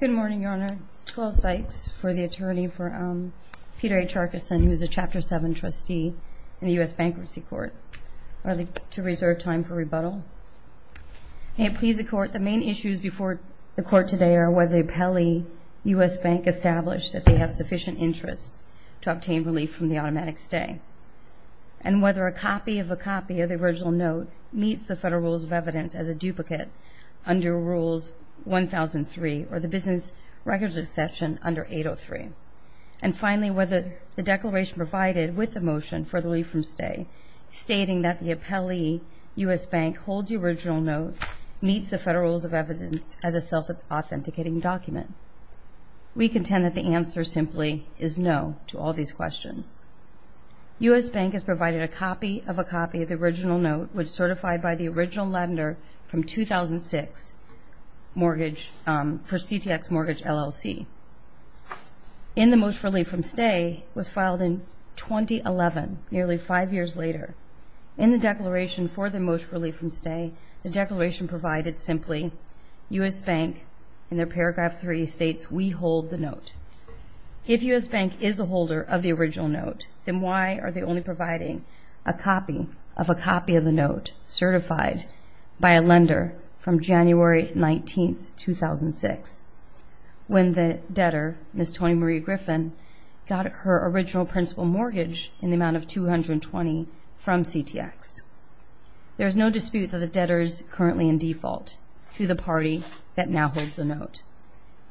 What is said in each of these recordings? Good morning, Your Honor. Nicole Sykes for the attorney for Peter H. Arkeson, who is a Chapter 7 trustee in the U.S. Bankruptcy Court. I'd like to reserve time for rebuttal. May it please the Court, the main issues before the Court today are whether the appellee, U.S. Bank, established that they have sufficient interest to obtain relief from the automatic stay and whether a copy of a copy of the original note meets the federal rules of evidence as a duplicate under Rules 1003 or the Business Records Exception under 803. And finally, whether the declaration provided with the motion for the relief from stay stating that the appellee, U.S. Bank, holds the original note meets the federal rules of evidence as a self-authenticating document. We contend that the answer simply is no to all these questions. U.S. Bank has provided a copy of a copy of the original note which certified by the original lender from 2006 for CTX Mortgage LLC. In the motion for relief from stay was filed in 2011, nearly five years later. In the declaration for the motion for relief from stay, the declaration provided simply U.S. Bank, in their paragraph 3, states, we hold the note. If U.S. Bank is a holder of the original note, then why are they only providing a copy of the note certified by a lender from January 19, 2006 when the debtor, Ms. Toni-Marie Griffin, got her original principal mortgage in the amount of 220 from CTX? There's no dispute that the debtor is currently in default to the party that now holds the note.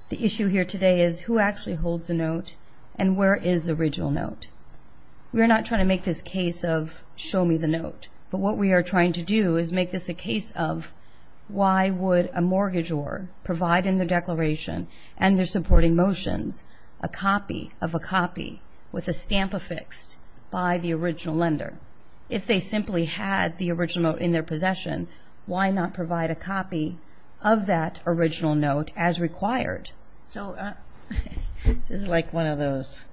The issue here today is who actually holds the note and where is the original note? We're not trying to make this case of show me the note, but what we are trying to do is make this a case of why would a mortgagor provide in the declaration and their supporting motions a copy of a copy with a stamp affixed by the original lender? If they simply had the original note in their possession, why not provide a copy of that original note as required? So this is like one of those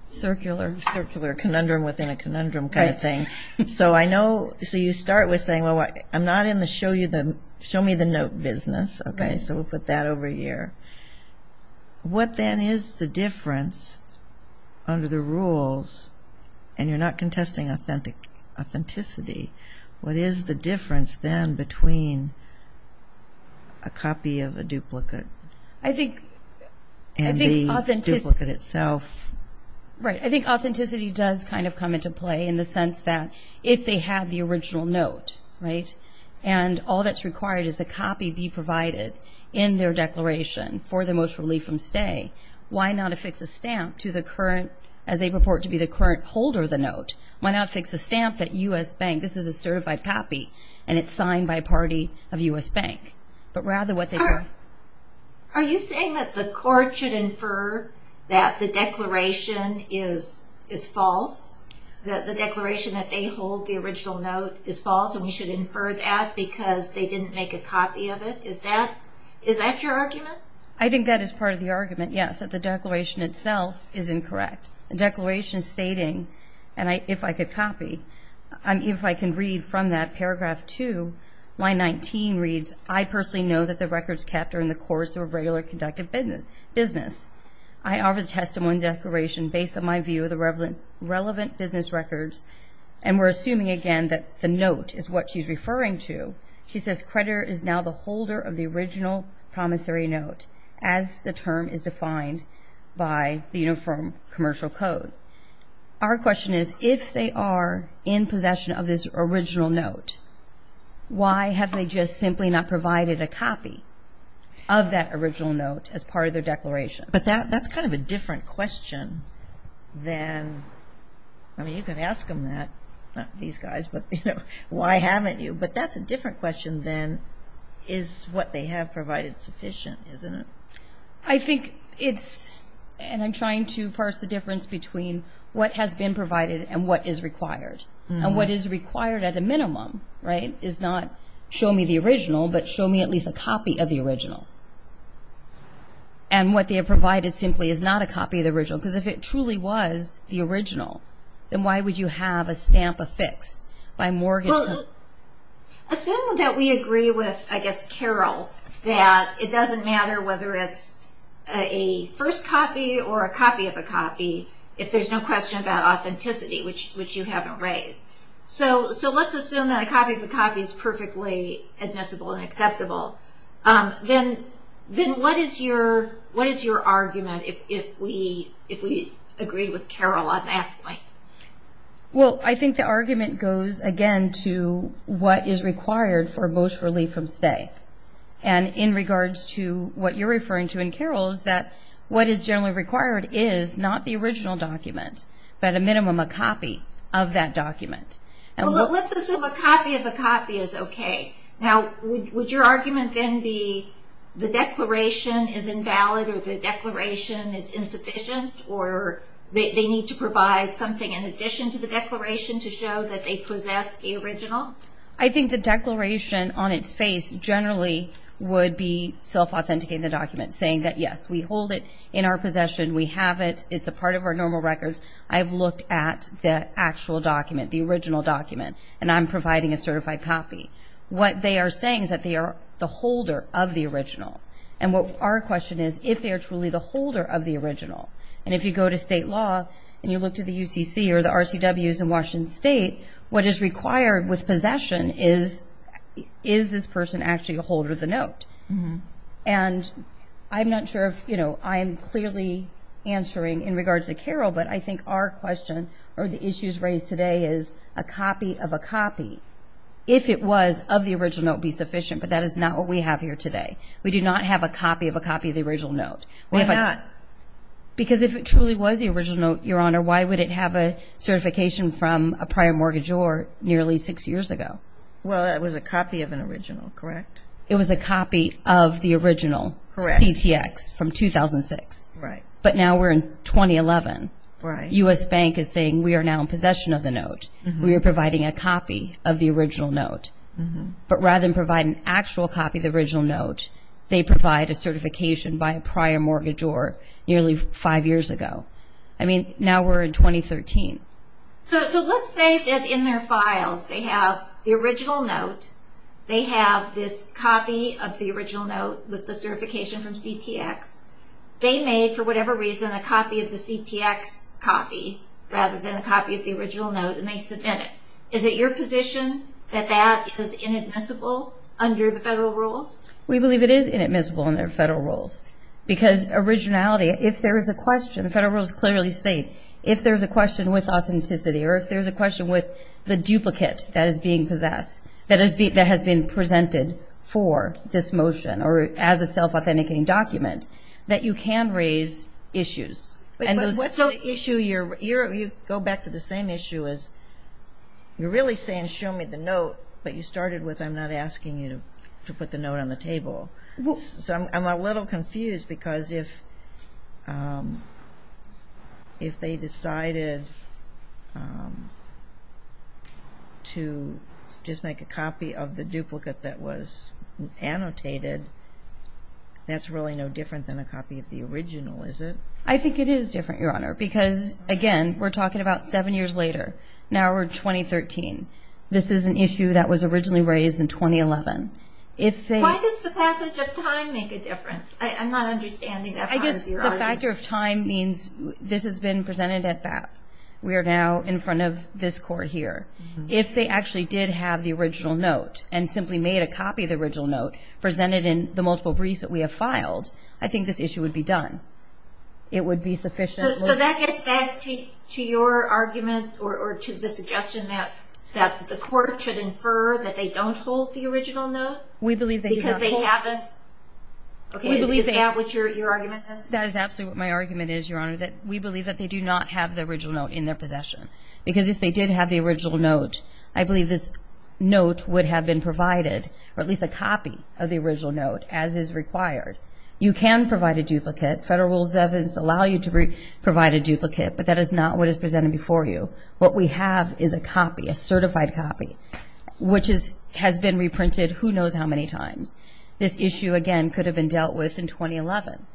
circular conundrum within a conundrum kind of thing. So I know, so you start with saying, well, I'm not in the show you the, show me the note business, okay, so we'll put that over here. What then is the difference under the rules, and you're not contesting authenticity, what is the difference then between a copy of a duplicate? I think, I think authenticity does kind of come into play in the sense that if they had the original note, right, and all that's required is a copy be provided in their declaration for the most relief from stay, why not affix a stamp to the current, as they purport to be the current holder of the note, why not affix a stamp that U.S. Bank, this is a certified copy, and it's signed by a party of U.S. Bank. But rather what they... Are you saying that the court should infer that the declaration is false, that the declaration that they hold the original note is false, and we should infer that because they didn't make a copy of it, is that your argument? I think that is part of the argument, yes, that the declaration itself is incorrect. The declaration stating, and if I could copy, if I can read from that paragraph two, line 19 reads, I personally know that the records kept are in the course of a regular conductive business. I offer the testimony and declaration based on my view of the relevant business records, and we're assuming again that the note is what she's referring to. She says creditor is now the holder of the original promissory note, as the term is defined by the Uniform Commercial Code. Our question is, if they are in possession of this original note, why have they just simply not provided a copy of that original note as part of their declaration? But that's kind of a different question than, I mean you can ask them that, not these guys, but you know, why haven't you? But that's a different question than, is what they have provided sufficient, isn't it? I think it's, and I'm trying to parse the difference between what has been provided and what is required, and what is required at a minimum, right, is not show me the original, but show me at least a copy of the original. And what they have provided simply is not a copy of the original, because if it truly was the original, then why would you have a stamp affixed by mortgage company? Assume that we agree with, I guess, Carol, that it doesn't matter whether it's a first copy or a copy of a copy, if there's no question about authenticity, which you haven't raised. So let's assume that a copy of a copy is perfectly admissible and acceptable, then what is your argument if we agree with Carol on that point? Well, I think the argument goes again to what is required for most relief from stay. And in regards to what you're referring to in Carol, is that what is generally required is not the original document, but at a minimum, a copy of that document. Well let's assume a copy of a copy is okay. Now would your argument then be the declaration is invalid or the declaration is insufficient or they need to provide something in addition to the declaration to show that they possess the original? I think the declaration on its face generally would be self-authenticating the document, saying that yes, we hold it in our possession, we have it, it's a part of our normal records, I've looked at the actual document, the original document, and I'm providing a certified copy. What they are saying is that they are the holder of the original. And what our question is, if they are truly the holder of the original, and if you go to state law and you look to the UCC or the RCWs in Washington State, what is required with possession is, is this person actually a holder of the note? And I'm not sure if, you know, I'm clearly answering in regards to Carol, but I think our question or the issues raised today is a copy of a copy. If it was of the original, it would be sufficient, but that is not what we have here today. We do not have a copy of a copy of the original note. Why not? Because if it truly was the original note, Your Honor, why would it have a certification from a prior mortgagor nearly six years ago? Well, it was a copy of an original, correct? It was a copy of the original CTX from 2006. But now we're in 2011. Right. U.S. Bank is saying we are now in possession of the note. We are providing a copy of the original note. But rather than provide an actual copy of the original note, they provide a certification by a prior mortgagor nearly five years ago. I mean, now we're in 2013. So let's say that in their files they have the original note. They have this copy of the original note with the certification from CTX. They made, for whatever reason, a copy of the CTX copy rather than a copy of the original note, and they submit it. Is it your position that that is inadmissible under the federal rules? We believe it is inadmissible under the federal rules. Because originality, if there is a question, the federal rules clearly state, if there's a question with authenticity or if there's a question with the duplicate that is being possessed that has been presented for this motion or as a self-authenticating document, that you can raise issues. But what's the issue? You go back to the same issue as you're really saying, show me the note that you started with. I'm not asking you to put the note on the table. So I'm a little confused because if they decided to just make a copy of the duplicate that was annotated, that's really no different than a copy of the original, is it? I think it is different, Your Honor, because, again, we're talking about seven years later. Now we're in 2013. This is an issue that was originally raised in 2011. Why does the passage of time make a difference? I'm not understanding that part of your argument. I guess the factor of time means this has been presented at BAP. We are now in front of this court here. If they actually did have the original note and simply made a copy of the original note presented in the multiple briefs that we have filed, I think this issue would be done. It would be sufficient. So that gets back to your argument or to the suggestion that the court should infer that they don't hold the original note? We believe they do not hold. Because they haven't? Is that what your argument is? That is absolutely what my argument is, Your Honor, that we believe that they do not have the original note in their possession. Because if they did have the original note, I believe this note would have been provided, or at least a copy of the original note, as is required. You can provide a duplicate. Federal Rules of Evidence allow you to provide a duplicate, but that is not what is presented before you. What we have is a copy, a certified copy, which has been reprinted who knows how many times. This issue, again, could have been dealt with in 2011.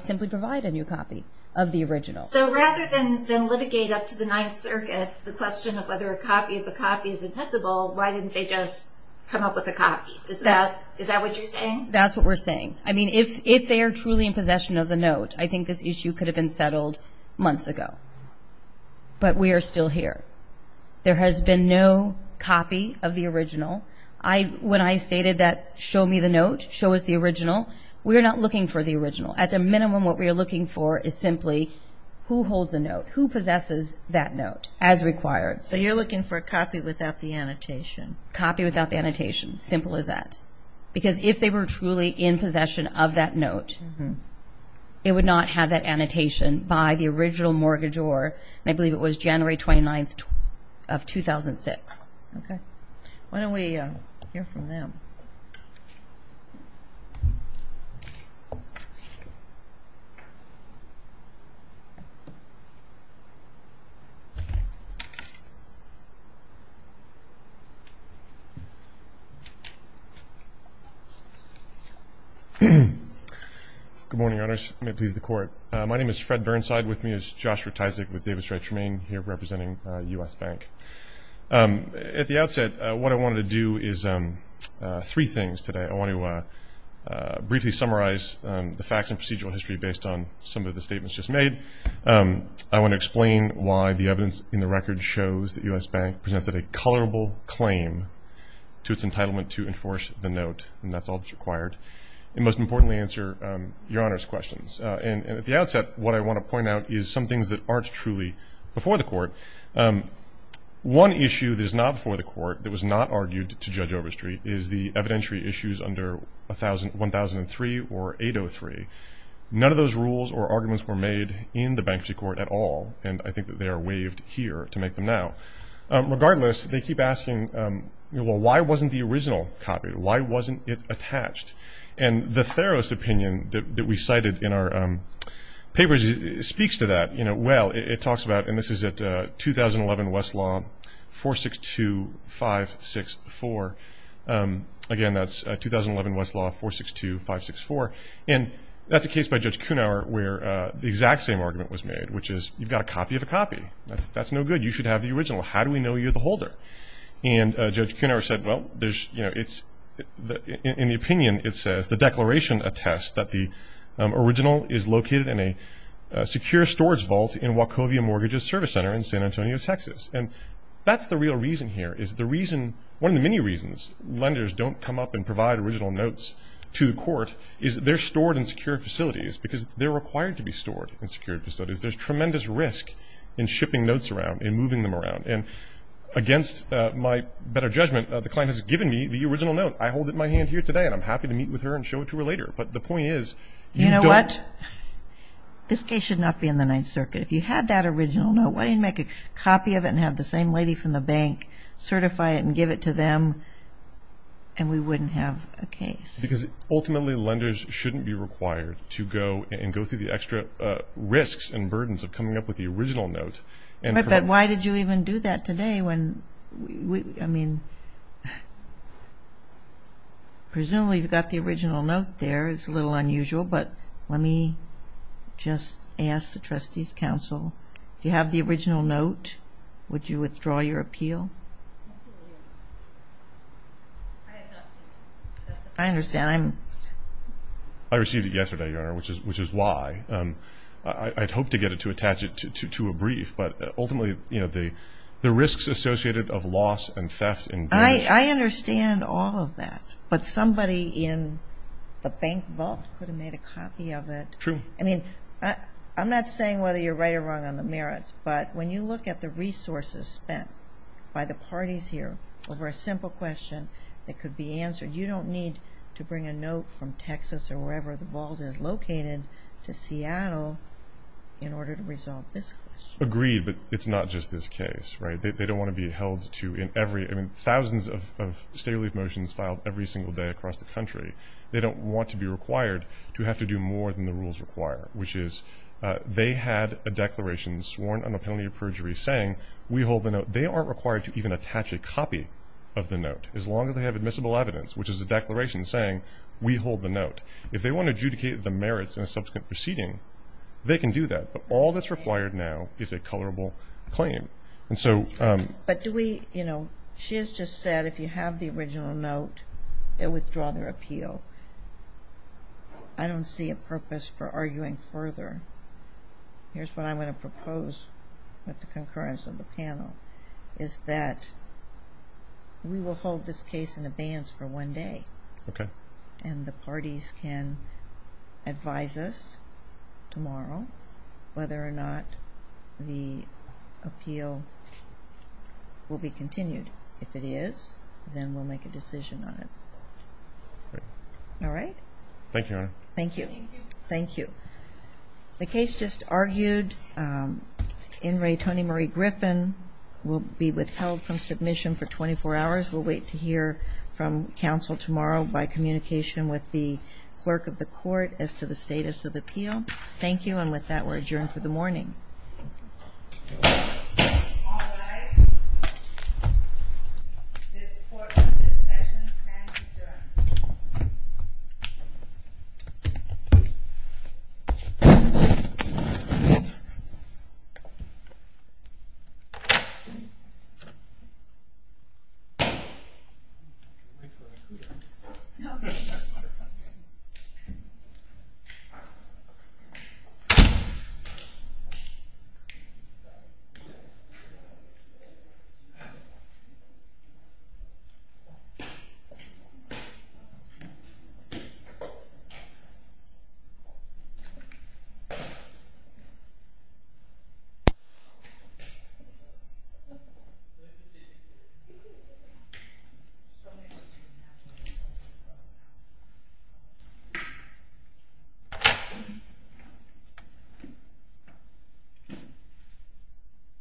Simply provide a new copy of the original. So rather than litigate up to the Ninth Circuit the question of whether a copy of the copy is impossible, why didn't they just come up with a copy? Is that what you're saying? That's what we're saying. I mean, if they are truly in possession of the note, I think this issue could have been settled months ago. But we are still here. There has been no copy of the original. When I stated that, show me the note, show us the original, we are not looking for the original. At the minimum, what we are looking for is simply who holds the note, who possesses that note as required. So you're looking for a copy without the annotation? Copy without the annotation, simple as that. Because if they were truly in possession of that note, it would not have that annotation by the original mortgagor, and I believe it was January 29th of 2006. Okay. Why don't we hear from them? Good morning, Your Honors. May it please the Court. My name is Fred Burnside. With me is Joshua Tysak with Davis-Wright Tremaine here representing U.S. Bank. At the outset, what I wanted to do is three things today. I want to briefly summarize the facts and procedural history based on some of the statements just made. I want to explain why the evidence in the record shows that U.S. Bank presented a colorable claim to its entitlement to enforce the note, and that's all that's required. And most importantly, answer Your Honor's questions, and at the outset, what I want to point out is some things that aren't truly before the Court. One issue that is not before the Court that was not argued to Judge Overstreet is the evidentiary issues under 1003 or 803. None of those rules or arguments were made in the Bankruptcy Court at all, and I think that they are waived here to make them now. Regardless, they keep asking, well, why wasn't the original copy? Why wasn't it attached? And the Theros opinion that we cited in our papers speaks to that. Well, it talks about, and this is at 2011 Westlaw 462564. Again, that's 2011 Westlaw 462564. And that's a case by Judge Kuhnauer where the exact same argument was made, which is you've got a copy of a copy. That's no good. You should have the original. How do we know you're the holder? And Judge Kuhnauer said, well, in the opinion, it says the declaration attests that the original is located in a secure storage vault in Wachovia Mortgages Service Center in San Antonio, Texas. And that's the real reason here is the reason, one of the many reasons lenders don't come up and provide original notes to the court is that they're stored in secure facilities because they're required to be stored in secure facilities. There's tremendous risk in shipping notes around and moving them around. And against my better judgment, the client has given me the original note. I hold it in my hand here today and I'm happy to meet with her and show it to her later. But the point is, you don't. You know what? This case should not be in the Ninth Circuit. If you had that original note, why didn't you make a copy of it and have the same lady from the bank certify it and give it to them? And we wouldn't have a case. Because ultimately, lenders shouldn't be required to go and go through the extra risks and burdens of coming up with the original note. But then why did you even do that today when we, I mean, presumably you've got the original note there. It's a little unusual. But let me just ask the Trustees Council, if you have the original note, would you withdraw your appeal? I understand. I received it yesterday, Your Honor, which is why. I'd hoped to get it to attach it to a brief. But ultimately, the risks associated of loss and theft and damage. I understand all of that. But somebody in the bank vault could have made a copy of it. I mean, I'm not saying whether you're right or wrong on the merits. But when you look at the resources spent by the parties here over a simple question that could be answered, you don't need to bring a note from Texas or wherever the vault is located to Seattle in order to resolve this question. Agreed. But it's not just this case, right? They don't want to be held to every, I mean, thousands of state relief motions filed every single day across the country. They don't want to be required to have to do more than the rules require, which is they had a declaration sworn under penalty of perjury saying, we hold the note. They aren't required to even attach a copy of the note, as long as they have admissible evidence, which is a declaration saying, we hold the note. If they want to adjudicate the merits in a subsequent proceeding, they can do that. But all that's required now is a colorable claim. And so. But do we, you know, she has just said, if you have the original note, withdraw their appeal. So I don't see a purpose for arguing further. Here's what I'm going to propose with the concurrence of the panel, is that we will hold this case in abeyance for one day, and the parties can advise us tomorrow whether or not the appeal will be continued. If it is, then we'll make a decision on it. All right. Thank you, Your Honor. Thank you. Thank you. The case just argued. In re, Tony Murray Griffin will be withheld from submission for 24 hours. We'll wait to hear from counsel tomorrow by communication with the clerk of the court as to the status of appeal. Thank you. And with that, we're adjourned for the morning. All rise. This court's discussion has adjourned. The court is adjourned. The court is adjourned.